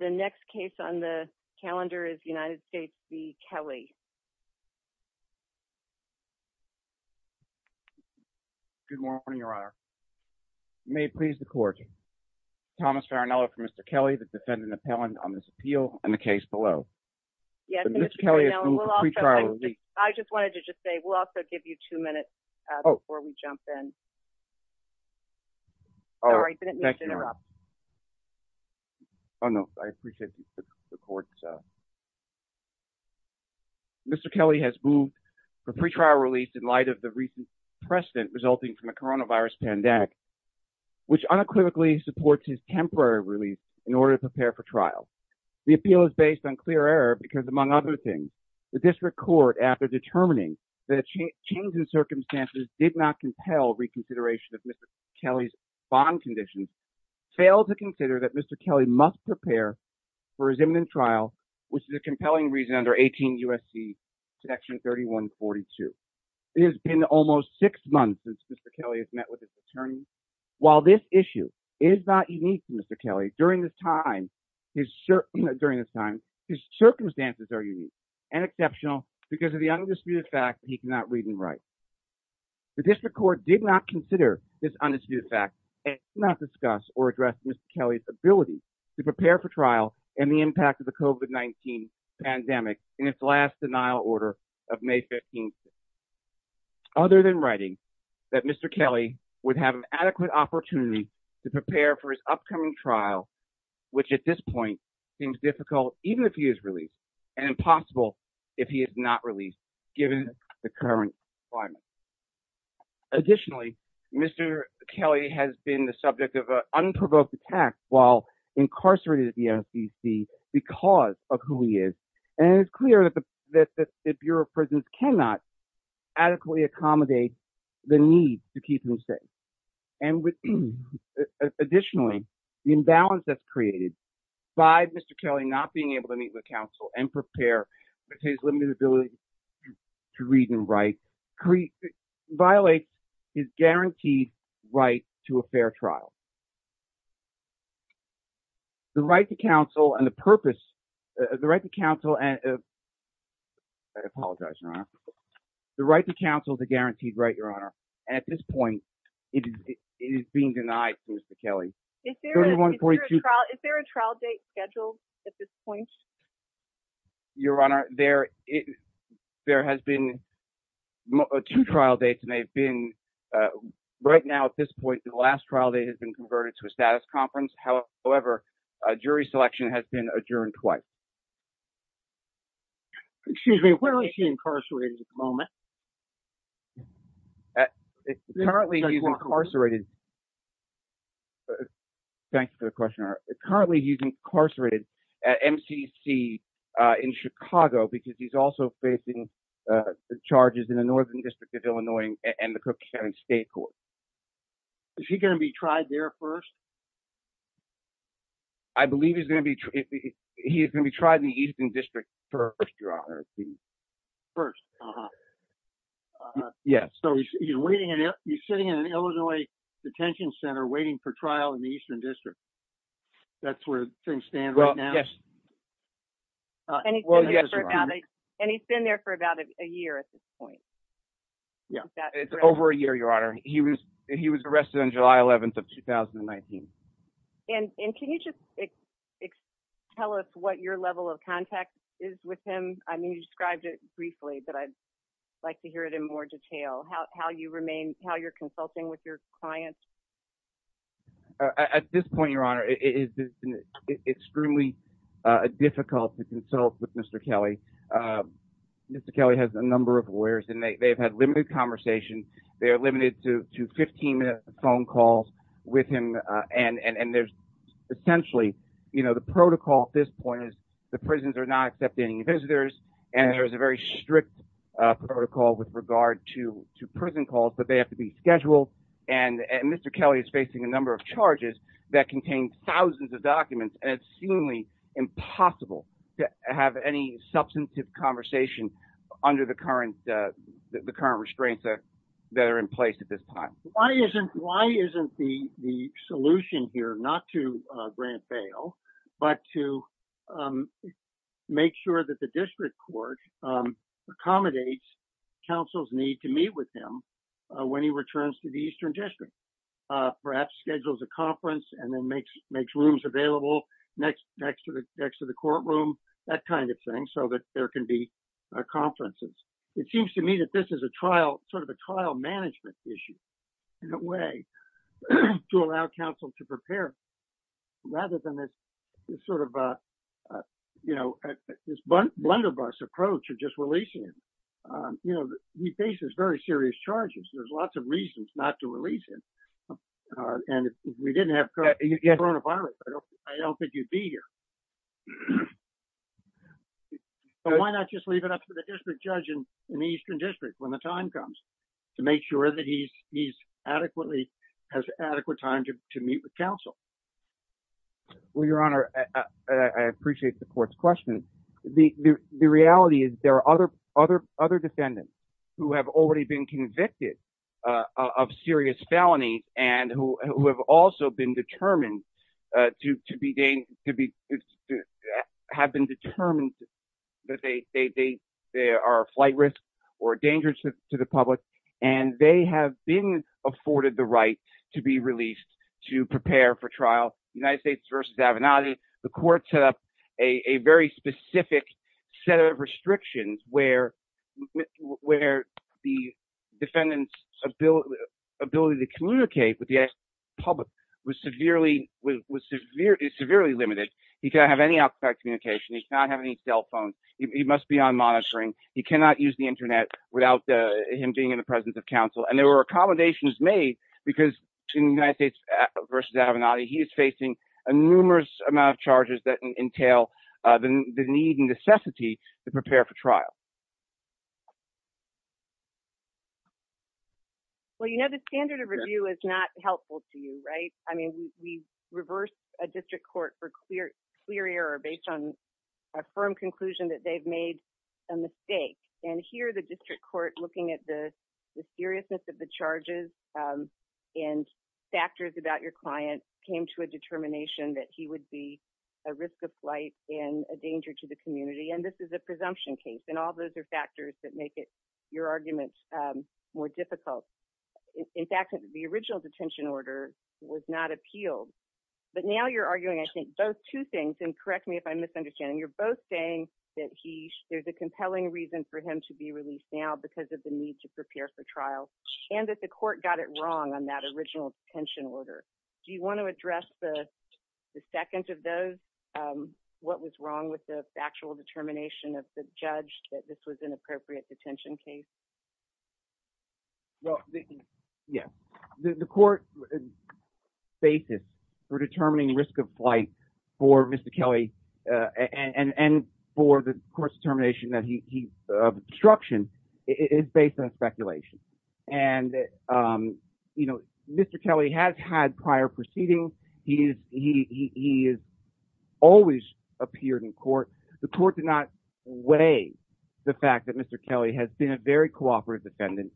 The next case on the calendar is United States v. Kelly. Good morning, Your Honor. You may please record. Thomas Farinello for Mr. Kelly, the defendant appellant on this appeal and the case below. Yes, Mr. Farinello. I just wanted to just say, we'll also give you two minutes before we jump in. Sorry, didn't mean to interrupt. Oh, no, I appreciate the court. Mr. Kelly has moved for pre-trial release in light of the recent precedent resulting from the coronavirus pandemic, which unequivocally supports his temporary release in order to prepare for trial. The appeal is based on clear error because, among other things, the district court, after determining that change in circumstances did not compel reconsideration of Mr. Kelly's bond conditions, failed to consider that Mr. Kelly must prepare for his imminent trial, which is a compelling reason under 18 U.S.C. section 3142. It has been almost six months since Mr. Kelly has met with his attorney. While this issue is not unique to Mr. Kelly, during this time, his circumstances are unique and exceptional because of the undisputed fact that he cannot read and write. The district court did not consider this undisputed fact and did not discuss or address Mr. Kelly's ability to prepare for trial and the impact of the COVID-19 pandemic in its last denial order of May 15th. Other than writing that Mr. Kelly would have an adequate opportunity to prepare for his upcoming trial, which at this point seems difficult, even if he is released, and impossible if he is not released, given the current climate. Additionally, Mr. Kelly has been the subject of an unprovoked attack while incarcerated at the MSDC because of who he is. And it's clear that the Bureau of Prisons cannot adequately accommodate the need to keep him safe. Additionally, the imbalance that's created by Mr. Kelly not being able to meet with counsel and prepare for his limited ability to read and write violates his guaranteed right to a fair trial. The right to counsel and the purpose... The right to counsel and... I apologize, Your Honor. The right to counsel is a guaranteed right, Your Honor. And at this point, it is being denied to Mr. Kelly. Is there a trial date scheduled at this point? Your Honor, there has been two trial dates, and they've been... Right now, at this point, the last trial date has been converted to a status conference. However, jury selection has been adjourned twice. Excuse me, where is he incarcerated at the moment? Currently, he's incarcerated... Thank you for the question, Your Honor. Currently, he's incarcerated at MCC in Chicago because he's also facing charges in the Northern District of Illinois and the Cook County State Court. Is he going to be tried there first? I believe he's going to be... He is going to be tried in the Eastern District first, Your Honor. First. Yes. So he's sitting in an Illinois detention center waiting for trial in the Eastern District. That's where things stand right now? Well, yes. And he's been there for about a year at this point? Yeah, it's over a year, Your Honor. He was arrested on July 11th of 2019. And can you just tell us what your level of contact is with him? I mean, you described it briefly, but I'd like to hear it in more detail. How you remain... How you're consulting with your clients? At this point, Your Honor, it's extremely difficult to consult with Mr. Kelly. Mr. Kelly has a number of lawyers, and they've had limited conversations. They are limited to 15 minute phone calls with him. And there's essentially, you know, the protocol at this point is the prisons are not accepting visitors. And there's a very strict protocol with regard to prison calls, but they have to be scheduled. And Mr. Kelly is facing a number of charges that contain thousands of documents. And it's seemingly impossible to have any substantive conversation under the current restraints that are in place at this time. Why isn't the solution here not to grant bail, but to make sure that the district court accommodates counsel's need to meet with him when he returns to the Eastern District? Perhaps schedules a conference and then makes rooms available next to the courtroom, that kind of thing, so that there can be conferences. It seems to me that this is a trial, sort of a trial management issue, in a way, to allow counsel to prepare, rather than this sort of, you know, this blunderbuss approach of just releasing him. You know, he faces very serious charges. There's lots of reasons not to release him. And if we didn't have coronavirus, I don't think he'd be here. But why not just leave it up to the district judge in the Eastern District, when the time comes, to make sure that he has adequate time to meet with counsel? Well, Your Honor, I appreciate the court's question. The reality is there are other defendants who have already been convicted of serious felony, and who have also been determined that they are a flight risk or a danger to the public. And they have been afforded the right to be released to prepare for trial. United States v. Avenatti, the court set up a very specific set of restrictions where the defendant's ability to communicate with the public was severely limited. He cannot have any outside communication. He cannot have any cell phones. He must be on monitoring. He cannot use the Internet without him being in the presence of counsel. And there were accommodations made because in United States v. Avenatti, he is facing a numerous amount of charges that entail the need and necessity to prepare for trial. Well, you know, the standard of review is not helpful to you, right? I mean, we reverse a district court for clear error based on a firm conclusion that they've made a mistake. And here the district court, looking at the seriousness of the charges and factors about your client, came to a determination that he would be a risk of flight and a danger to the community. And this is a presumption case, and all those are factors that make your argument more difficult. In fact, the original detention order was not appealed. But now you're arguing, I think, both two things, and correct me if I'm misunderstanding. You're both saying that there's a compelling reason for him to be released now because of the need to prepare for trial and that the court got it wrong on that original detention order. Do you want to address the second of those, what was wrong with the factual determination of the judge that this was an appropriate detention case? Well, yes. The court's basis for determining risk of flight for Mr. Kelly and for the court's determination of obstruction is based on speculation. And, you know, Mr. Kelly has had prior proceedings. He has always appeared in court. The court did not weigh the fact that Mr. Kelly has been a very cooperative defendant.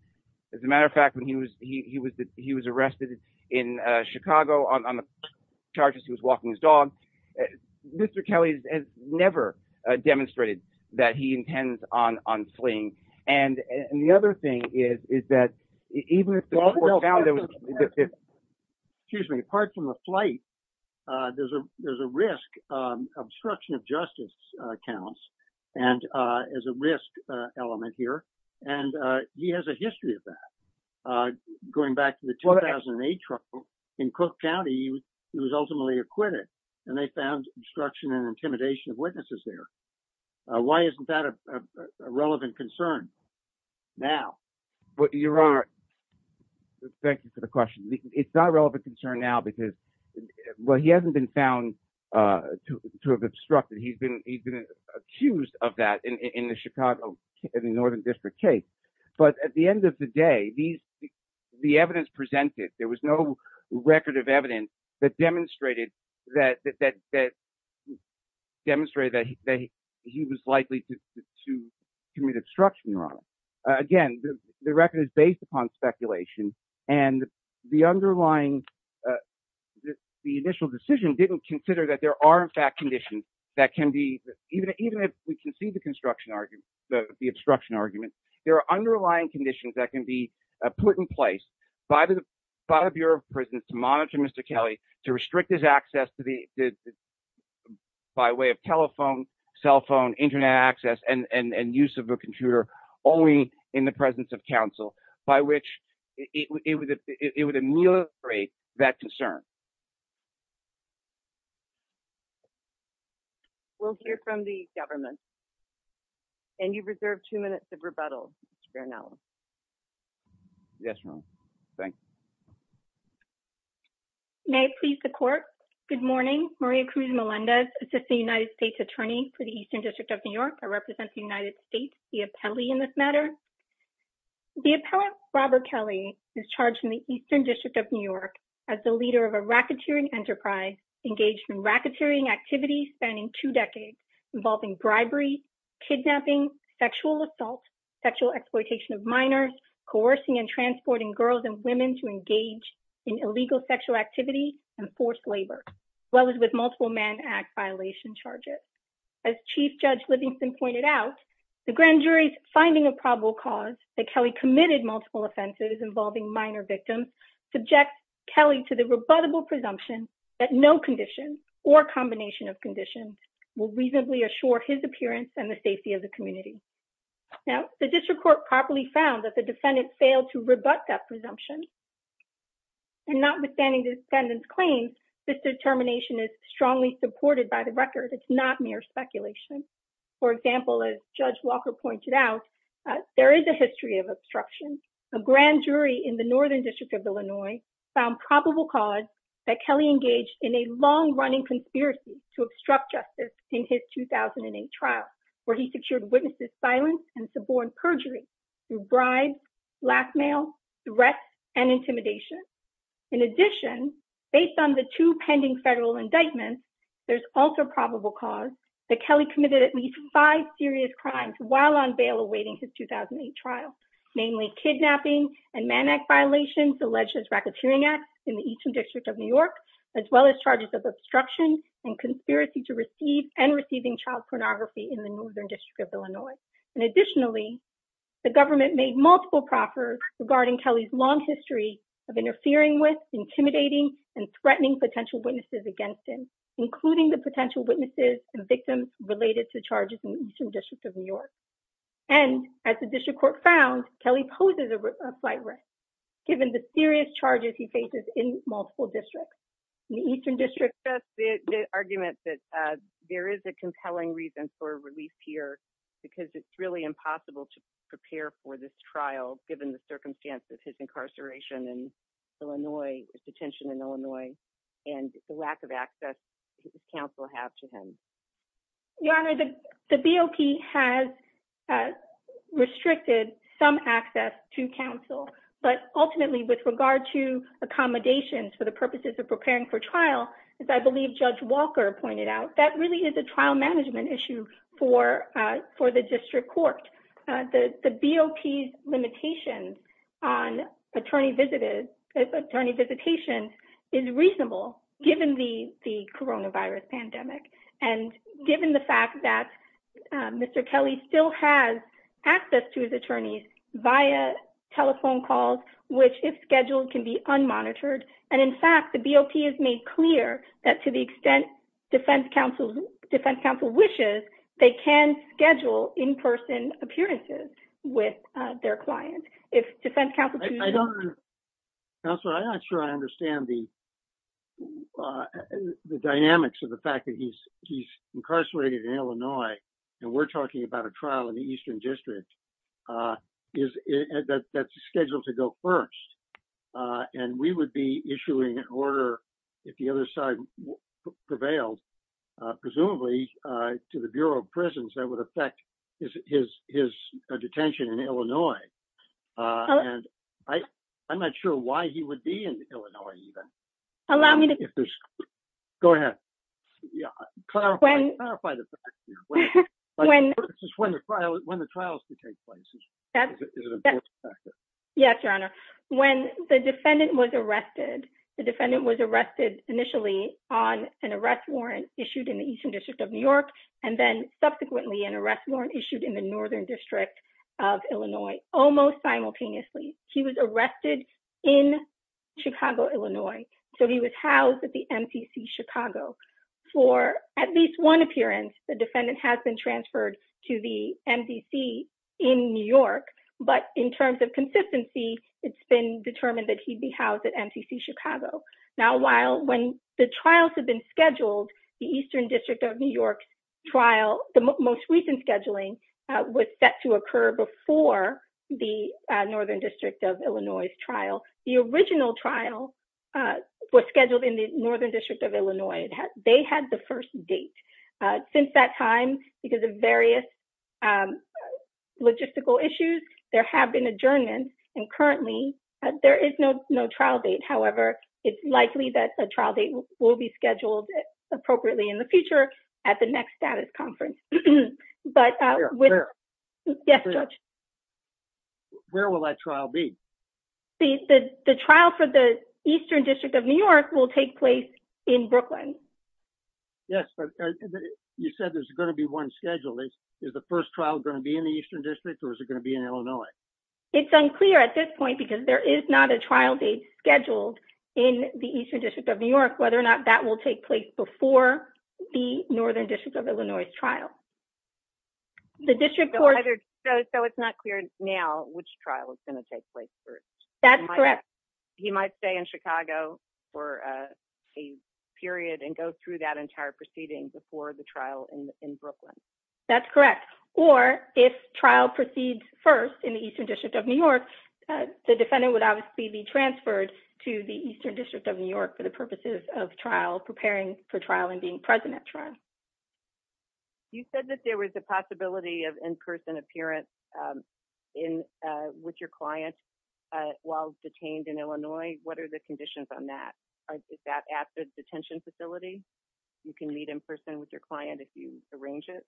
As a matter of fact, when he was arrested in Chicago on the charges, he was walking his dog. Mr. Kelly has never demonstrated that he intends on fleeing. And the other thing is, is that even if the court found that... Excuse me. Apart from the flight, there's a risk, obstruction of justice counts as a risk element here. And he has a history of that. Going back to the 2008 trial in Cook County, he was ultimately acquitted and they found obstruction and intimidation of witnesses there. Why isn't that a relevant concern now? Your Honor, thank you for the question. It's not a relevant concern now because, well, he hasn't been found to have obstructed. He's been accused of that in the Chicago, in the Northern District case. But at the end of the day, the evidence presented, there was no record of evidence that demonstrated that he was likely to commit obstruction, Your Honor. Again, the record is based upon speculation and the underlying, the initial decision didn't consider that there are in fact conditions that can be, even if we can see the obstruction argument, there are underlying conditions that can be put in place by the Bureau of Prisons to monitor Mr. Kelly, to restrict his access by way of telephone, cell phone, Internet access, and use of a computer only in the presence of counsel, by which it would ameliorate that concern. We'll hear from the government. And you've reserved two minutes of rebuttal, Ms. Farinelli. Yes, Your Honor. Thanks. May I please the court? Good morning. Maria Cruz Melendez, Assistant United States Attorney for the Eastern District of New York. I represent the United States, the appellee in this matter. The appellant, Robert Kelly, is charged in the Eastern District of New York as the leader of a racketeering enterprise engaged in racketeering activities spanning two decades involving bribery, kidnapping, sexual assault, sexual exploitation of minors, coercing and transporting girls and women to engage in illegal sexual activity and forced labor, as well as with multiple man act violation charges. As Chief Judge Livingston pointed out, the grand jury's finding of probable cause that Kelly committed multiple offenses involving minor victims subjects Kelly to the rebuttable presumption that no condition or combination of conditions will reasonably assure his appearance and the safety of the community. Now, the district court properly found that the defendant failed to rebut that presumption. And notwithstanding the defendant's claims, this determination is strongly supported by the record. It's not mere speculation. For example, as Judge Walker pointed out, there is a history of obstruction. In addition, based on the two pending federal indictments, there's also probable cause that Kelly committed at least five serious crimes while on bail awaiting his 2008 trial, namely kidnapping and man act violations alleged as racketeering act in the Eastern District of New York, as well as charges of obstruction and conspiracy to receive and receiving child pornography in the New York City area. And additionally, the government made multiple proffers regarding Kelly's long history of interfering with intimidating and threatening potential witnesses against him, including the potential witnesses and victims related to charges in the Eastern District of New York. And as the district court found, Kelly poses a slight risk given the serious charges he faces in multiple districts in the Eastern District. The argument that there is a compelling reason for release here because it's really impossible to prepare for this trial, given the circumstances, his incarceration in Illinois, his detention in Illinois, and the lack of access to counsel have to him. Your Honor, the BOP has restricted some access to counsel, but ultimately with regard to accommodations for the purposes of preparing for trial, as I believe Judge Walker pointed out, that really is a trial management issue for the district court. The BOP's limitations on attorney visitation is reasonable, given the coronavirus pandemic, and given the fact that Mr. Kelly still has access to his attorneys via telephone calls, which if scheduled can be unmonitored. And in fact, the BOP has made clear that to the extent defense counsel wishes, they can schedule in-person appearances with their clients. Counselor, I'm not sure I understand the dynamics of the fact that he's incarcerated in Illinois, and we're talking about a trial in the Eastern District that's scheduled to go first. And we would be issuing an order, if the other side prevails, presumably to the Bureau of Prisons that would affect his detention in Illinois. And I'm not sure why he would be in Illinois, even. Go ahead. Clarify the fact here. When the trial is to take place is an important factor. Yes, Your Honor. When the defendant was arrested, the defendant was arrested initially on an arrest warrant issued in the Eastern District of New York, and then subsequently an arrest warrant issued in the Northern District of Illinois, almost simultaneously. He was arrested in Chicago, Illinois. So he was housed at the MTC Chicago. For at least one appearance, the defendant has been transferred to the MDC in New York, but in terms of consistency, it's been determined that he'd be housed at MTC Chicago. Now, while when the trials have been scheduled, the Eastern District of New York trial, the most recent scheduling, was set to occur before the Northern District of Illinois' trial. The original trial was scheduled in the Northern District of Illinois. They had the first date. Since that time, because of various logistical issues, there have been adjournments, and currently there is no trial date. However, it's likely that a trial date will be scheduled appropriately in the future at the next status conference. Where? Yes, Judge. Where will that trial be? The trial for the Eastern District of New York will take place in Brooklyn. Yes, but you said there's going to be one schedule. Is the first trial going to be in the Eastern District, or is it going to be in Illinois? It's unclear at this point, because there is not a trial date scheduled in the Eastern District of New York, whether or not that will take place before the Northern District of Illinois' trial. So it's not clear now which trial is going to take place first? That's correct. He might stay in Chicago for a period and go through that entire proceeding before the trial in Brooklyn. That's correct. Or if trial proceeds first in the Eastern District of New York, the defendant would obviously be transferred to the Eastern District of New York for the purposes of trial, preparing for trial and being present at trial. You said that there was a possibility of in-person appearance with your client while detained in Illinois. What are the conditions on that? Is that at the detention facility? You can meet in person with your client if you arrange it?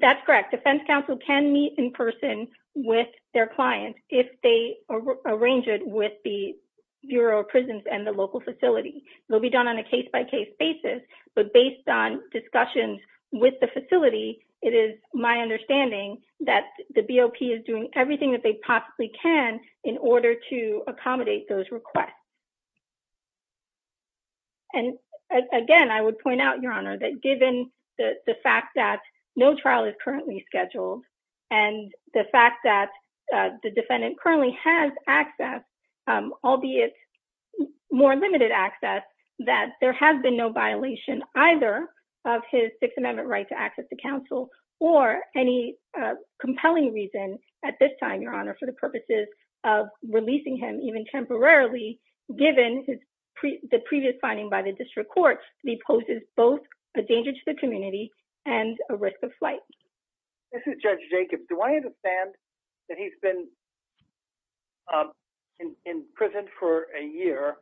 That's correct. Defense counsel can meet in person with their client if they arrange it with the Bureau of Prisons and the local facility. They'll be done on a case-by-case basis, but based on discussions with the facility, it is my understanding that the BOP is doing everything that they possibly can in order to accommodate those requests. Again, I would point out, Your Honor, that given the fact that no trial is currently scheduled and the fact that the defendant currently has access, albeit more limited access, that there has been no violation either of his Sixth Amendment right to access to counsel or any compelling reason at this time, Your Honor, for the purposes of releasing him even temporarily given the previous finding by the district court that he poses both a danger to the community and a risk of flight. This is Judge Jacob. Do I understand that he's been in prison for a year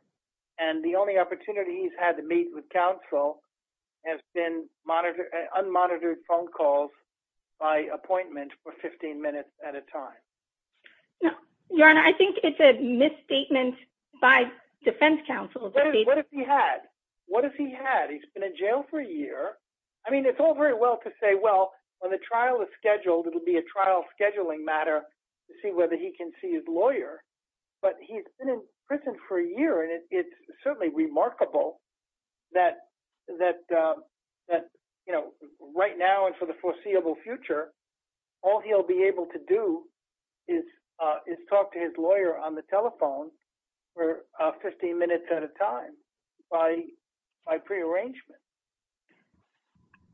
and the only opportunity he's had to meet with counsel has been unmonitored phone calls by appointment for 15 minutes at a time? Your Honor, I think it's a misstatement by defense counsel. What has he had? What has he had? He's been in jail for a year. I mean, it's all very well to say, well, when the trial is scheduled, it'll be a trial scheduling matter to see whether he can see his lawyer. But he's been in prison for a year, and it's certainly remarkable that right now and for the foreseeable future, all he'll be able to do is talk to his lawyer on the telephone for 15 minutes at a time by prearrangement.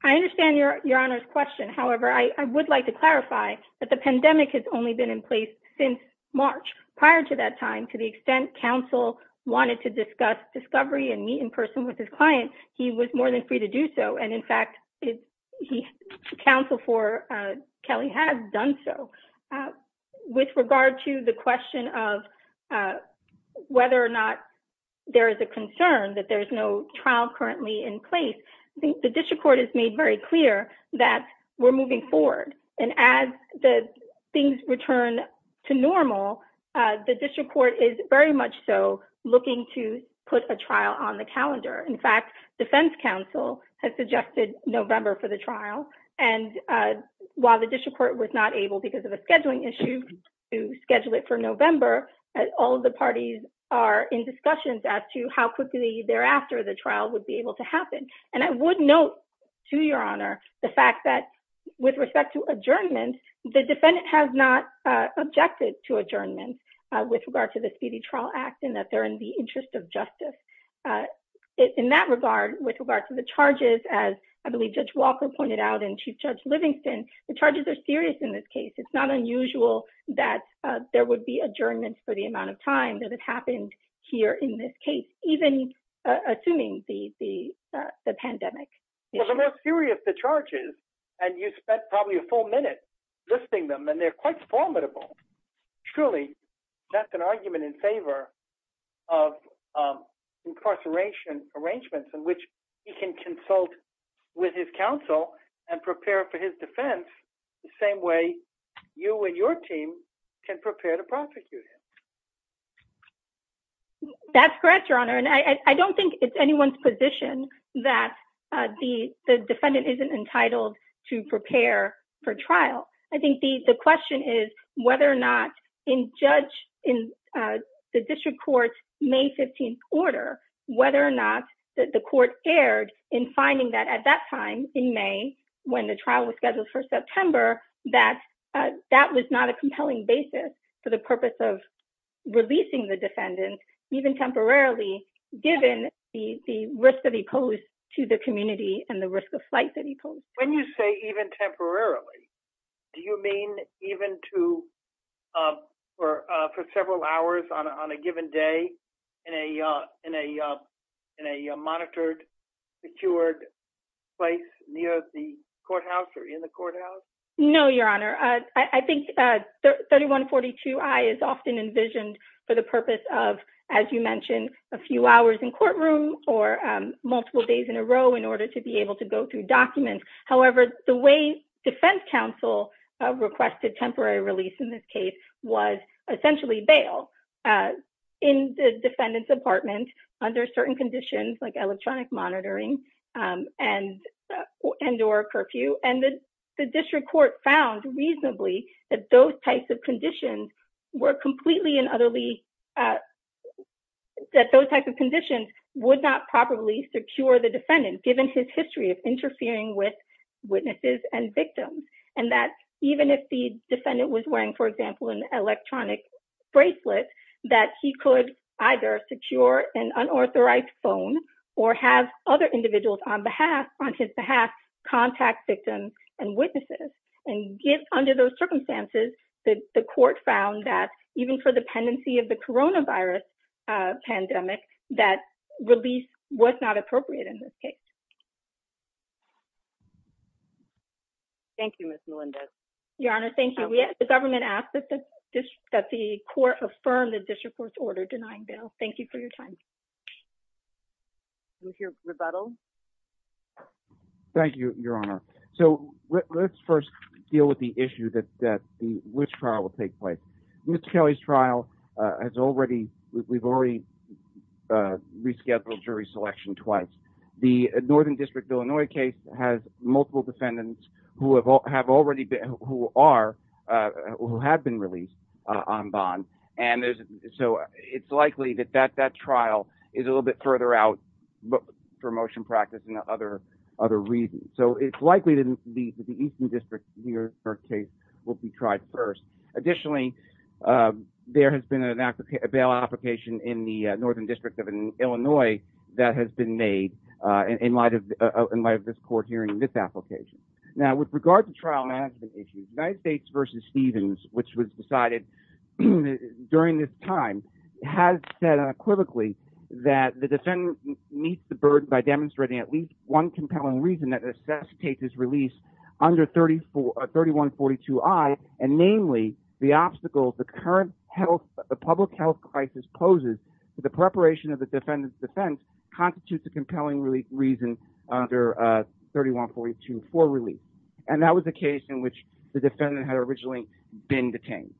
I understand Your Honor's question. However, I would like to clarify that the pandemic has only been in place since March. Prior to that time, to the extent counsel wanted to discuss discovery and meet in person with his client, he was more than free to do so. And in fact, counsel for Kelly has done so. With regard to the question of whether or not there is a concern that there's no trial currently in place, the district court has made very clear that we're moving forward. And as the things return to normal, the district court is very much so looking to put a trial on the calendar. In fact, defense counsel has suggested November for the trial. And while the district court was not able because of a scheduling issue to schedule it for November, all of the parties are in discussions as to how quickly thereafter the trial would be able to happen. And I would note to Your Honor the fact that with respect to adjournment, the defendant has not objected to adjournment with regard to the Speedy Trial Act and that they're in the interest of justice. In that regard, with regard to the charges, as I believe Judge Walker pointed out and Chief Judge Livingston, the charges are serious in this case. It's not unusual that there would be adjournment for the amount of time that has happened here in this case, even assuming the pandemic. Well, they're serious, the charges, and you spent probably a full minute listing them, and they're quite formidable. Truly, that's an argument in favor of incarceration arrangements in which he can consult with his counsel and prepare for his defense the same way you and your team can prepare to prosecute him. That's correct, Your Honor, and I don't think it's anyone's position that the defendant isn't entitled to prepare for trial. I think the question is whether or not in the district court's May 15th order, whether or not the court erred in finding that at that time in May, when the trial was scheduled for September, that that was not a compelling basis for the purpose of releasing the defendant, even temporarily, given the risk that he posed to the community and the risk of flight that he posed. When you say even temporarily, do you mean even for several hours on a given day in a monitored, secured place near the courthouse or in the courthouse? No, Your Honor. I think 3142I is often envisioned for the purpose of, as you mentioned, a few hours in courtroom or multiple days in a row in order to be able to go through documents. However, the way defense counsel requested temporary release in this case was essentially bail in the defendant's apartment under certain conditions like electronic monitoring and or curfew. And the district court found reasonably that those types of conditions were completely and utterly, that those types of conditions would not properly secure the defendant, given his history of interfering with witnesses and victims. And that even if the defendant was wearing, for example, an electronic bracelet, that he could either secure an unauthorized phone or have other individuals on his behalf contact victims and witnesses. And under those circumstances, the court found that even for the pendency of the coronavirus pandemic, that release was not appropriate in this case. Thank you, Miss Melinda. Your Honor, thank you. The government asked that the court affirmed the district court's order denying bail. Thank you for your time. We'll hear rebuttal. Thank you, Your Honor. So let's first deal with the issue that that which trial will take place. Miss Kelly's trial has already we've already rescheduled jury selection twice. The Northern District of Illinois case has multiple defendants who have all have already been who are who have been released on bond. And so it's likely that that that trial is a little bit further out for motion practice and other other reasons. So it's likely to be the Eastern District here. Her case will be tried first. Additionally, there has been an application, a bail application in the Northern District of Illinois that has been made in light of in light of this court hearing this application. Now, with regard to trial management issues, United States v. Stevens, which was decided during this time, has said unequivocally that the defendant meets the burden by demonstrating at least one compelling reason that this case is released under thirty four thirty one forty two I. And namely, the obstacle, the current health, the public health crisis poses to the preparation of the defendant's defense constitutes a compelling reason under thirty one forty two for release. And that was the case in which the defendant had originally been detained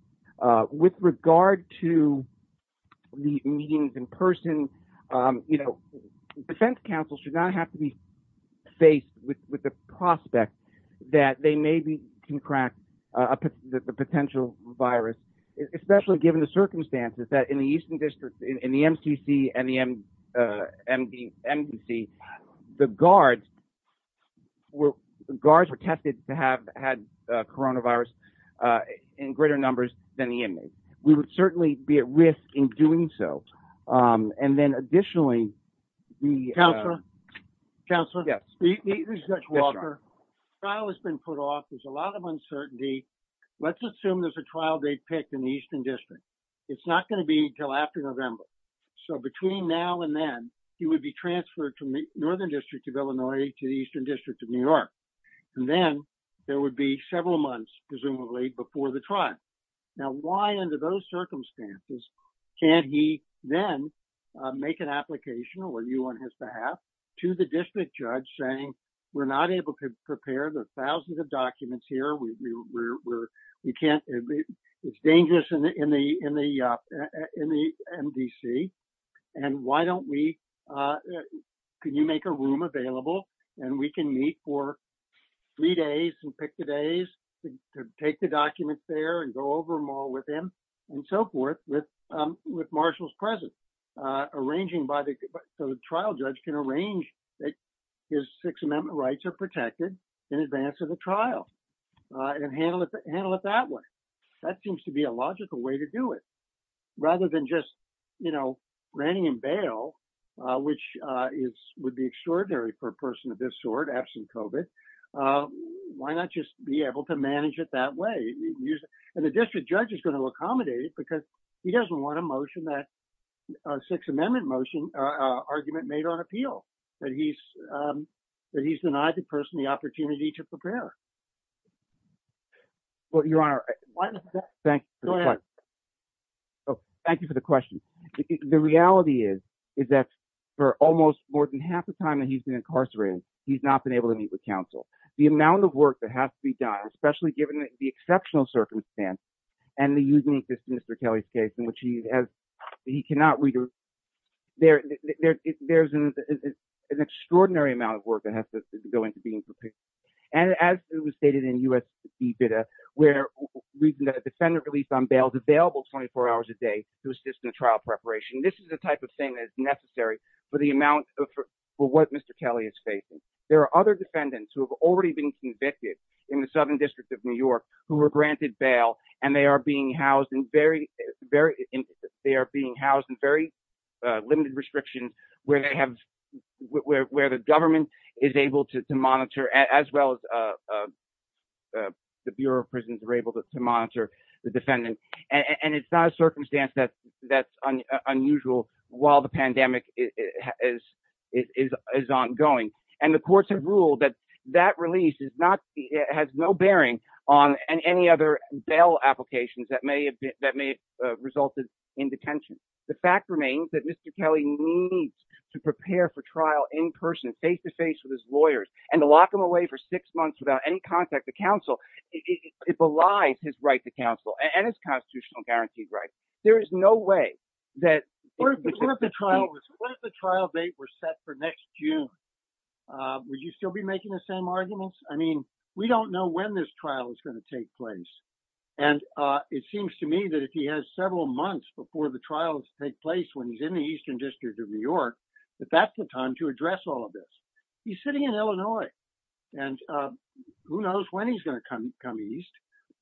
with regard to the meetings in person. You know, defense counsel should not have to be faced with the prospect that they maybe can crack up the potential virus, especially given the circumstances that in the Eastern District, in the MTC and the MD and the guards were guards were tested to have had coronavirus in greater numbers than the inmates. We would certainly be at risk in doing so. And then additionally, the counselor counselor. Yes. The trial has been put off. There's a lot of uncertainty. Let's assume there's a trial they picked in the Eastern District. It's not going to be until after November. So between now and then, he would be transferred to the Northern District of Illinois to the Eastern District of New York. And then there would be several months, presumably before the trial. Now, why under those circumstances can't he then make an application or you on his behalf to the district judge saying we're not able to prepare the thousands of documents here? We can't. It's dangerous in the in the in the MDC. And why don't we can you make a room available and we can meet for three days and pick the days to take the documents there and go over them all with him and so forth. With with marshals present, arranging by the trial judge can arrange that his Sixth Amendment rights are protected in advance of the trial and handle it, handle it that way. That seems to be a logical way to do it rather than just, you know, renting and bail, which is would be extraordinary for a person of this sort. Why not just be able to manage it that way? And the district judge is going to accommodate it because he doesn't want a motion that Sixth Amendment motion argument made on appeal that he's that he's denied the person the opportunity to prepare. Well, your honor. Thank you. Thank you for the question. The reality is, is that for almost more than half the time that he's been incarcerated, he's not been able to meet with counsel, the amount of work that has to be done, especially given the exceptional circumstance. And the use of Mr. Kelly's case in which he has, he cannot read. There, there's an extraordinary amount of work that has to go into being prepared. And as it was stated in us, where we've got a defendant released on bail available 24 hours a day to assist in the trial preparation, this is the type of thing that's necessary for the amount of what Mr. Kelly is facing. There are other defendants who have already been convicted in the Southern District of New York, who were granted bail, and they are being housed in very, very, they are being housed in very limited restriction, where they have, where the government is able to monitor as well as the Bureau of Prisons are able to monitor the defendant. And it's not a circumstance that that's unusual, while the pandemic is, is ongoing, and the courts have ruled that that release is not has no bearing on any other bail applications that may have been that may have resulted in detention. The fact remains that Mr. Kelly needs to prepare for trial in person, face to face with his lawyers, and to lock them away for six months without any contact to counsel. It belies his right to counsel and his constitutional guaranteed right. There is no way that the trial trial date were set for next June. Would you still be making the same arguments? I mean, we don't know when this trial is going to take place. And it seems to me that if he has several months before the trials take place when he's in the Eastern District of New York, that that's the time to address all of this. He's sitting in Illinois. And who knows when he's going to come come East,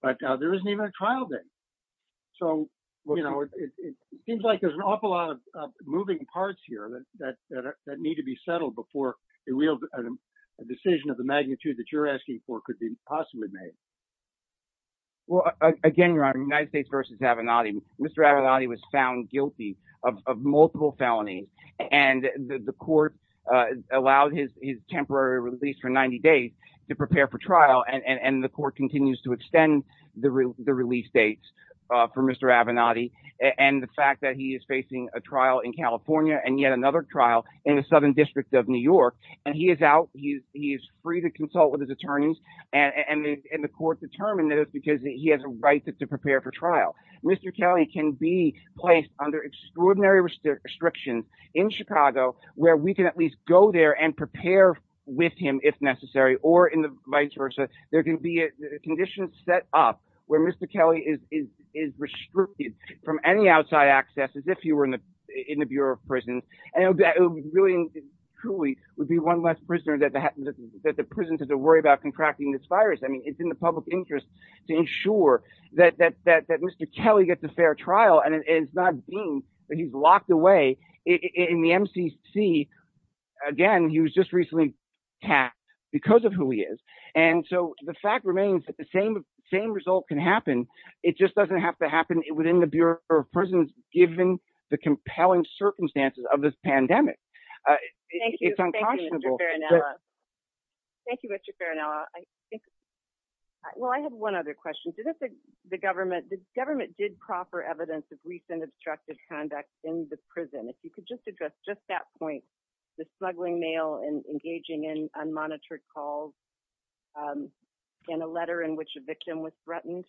but there isn't even a trial date. So, you know, it seems like there's an awful lot of moving parts here that that that need to be settled before a real decision of the magnitude that you're asking for could be possibly made. Well, again, your honor, United States versus Avenatti, Mr. Avenatti was found guilty of multiple felonies, and the court allowed his his temporary release for 90 days to prepare for trial. And the court continues to extend the release dates for Mr. Avenatti and the fact that he is facing a trial in California and yet another trial in the Southern District of New York. And he is out. He is free to consult with his attorneys. And the court determined that it's because he has a right to prepare for trial. Mr. Kelly can be placed under extraordinary restrictions in Chicago where we can at least go there and prepare with him if necessary or in the vice versa. There can be conditions set up where Mr. Kelly is is is restricted from any outside access as if you were in the in the Bureau of Prisons. And that really, truly would be one less prisoner that that the prisons have to worry about contracting this virus. I mean, it's in the public interest to ensure that that that that Mr. Kelly gets a fair trial. And it's not being that he's locked away in the MCC. Again, he was just recently tapped because of who he is. And so the fact remains that the same same result can happen. It just doesn't have to happen within the Bureau of Prisons, given the compelling circumstances of this pandemic. Thank you. Thank you, Mr. Well, I have one other question to the government. The government did proffer evidence of recent obstructed conduct in the prison. If you could just address just that point, the smuggling mail and engaging in unmonitored calls in a letter in which a victim was threatened.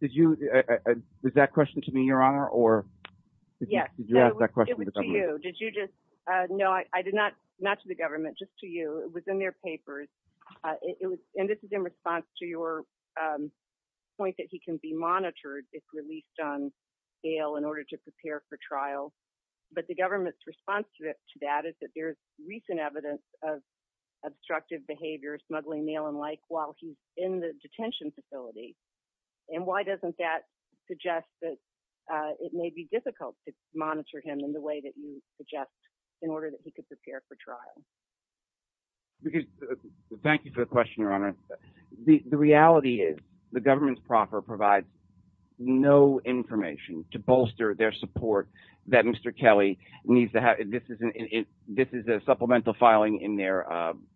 Did you get that question to me, Your Honor, or did you ask that question? No, I did not. Not to the government, just to you. It was in their papers. And this is in response to your point that he can be monitored if released on bail in order to prepare for trial. But the government's response to it to that is that there's recent evidence of obstructive behavior, smuggling mail and like while he's in the detention facility. And why doesn't that suggest that it may be difficult to monitor him in the way that you suggest in order that he could prepare for trial? Thank you for the question, Your Honor. The reality is the government proper provides no information to bolster their support that Mr. Kelly needs to have. This is a supplemental filing in their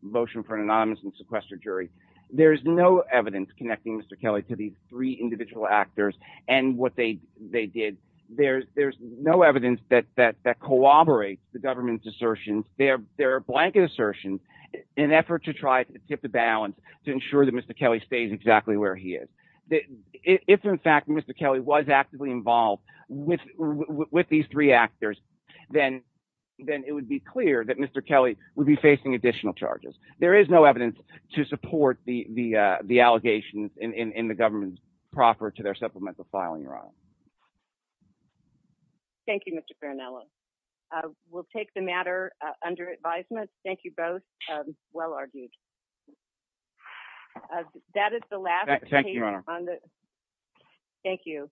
motion for an anonymous and sequestered jury. There is no evidence connecting Mr. Kelly to the three individual actors and what they they did. There's there's no evidence that that that corroborates the government's assertion. There are blanket assertions in an effort to try to tip the balance to ensure that Mr. Kelly stays exactly where he is. If, in fact, Mr. Kelly was actively involved with with these three actors, then then it would be clear that Mr. Kelly would be facing additional charges. There is no evidence to support the the the allegations in the government proper to their supplemental filing. Your Honor. Thank you, Mr. Farinello. We'll take the matter under advisement. Thank you both. Well argued. That is the last. Thank you. Thank you.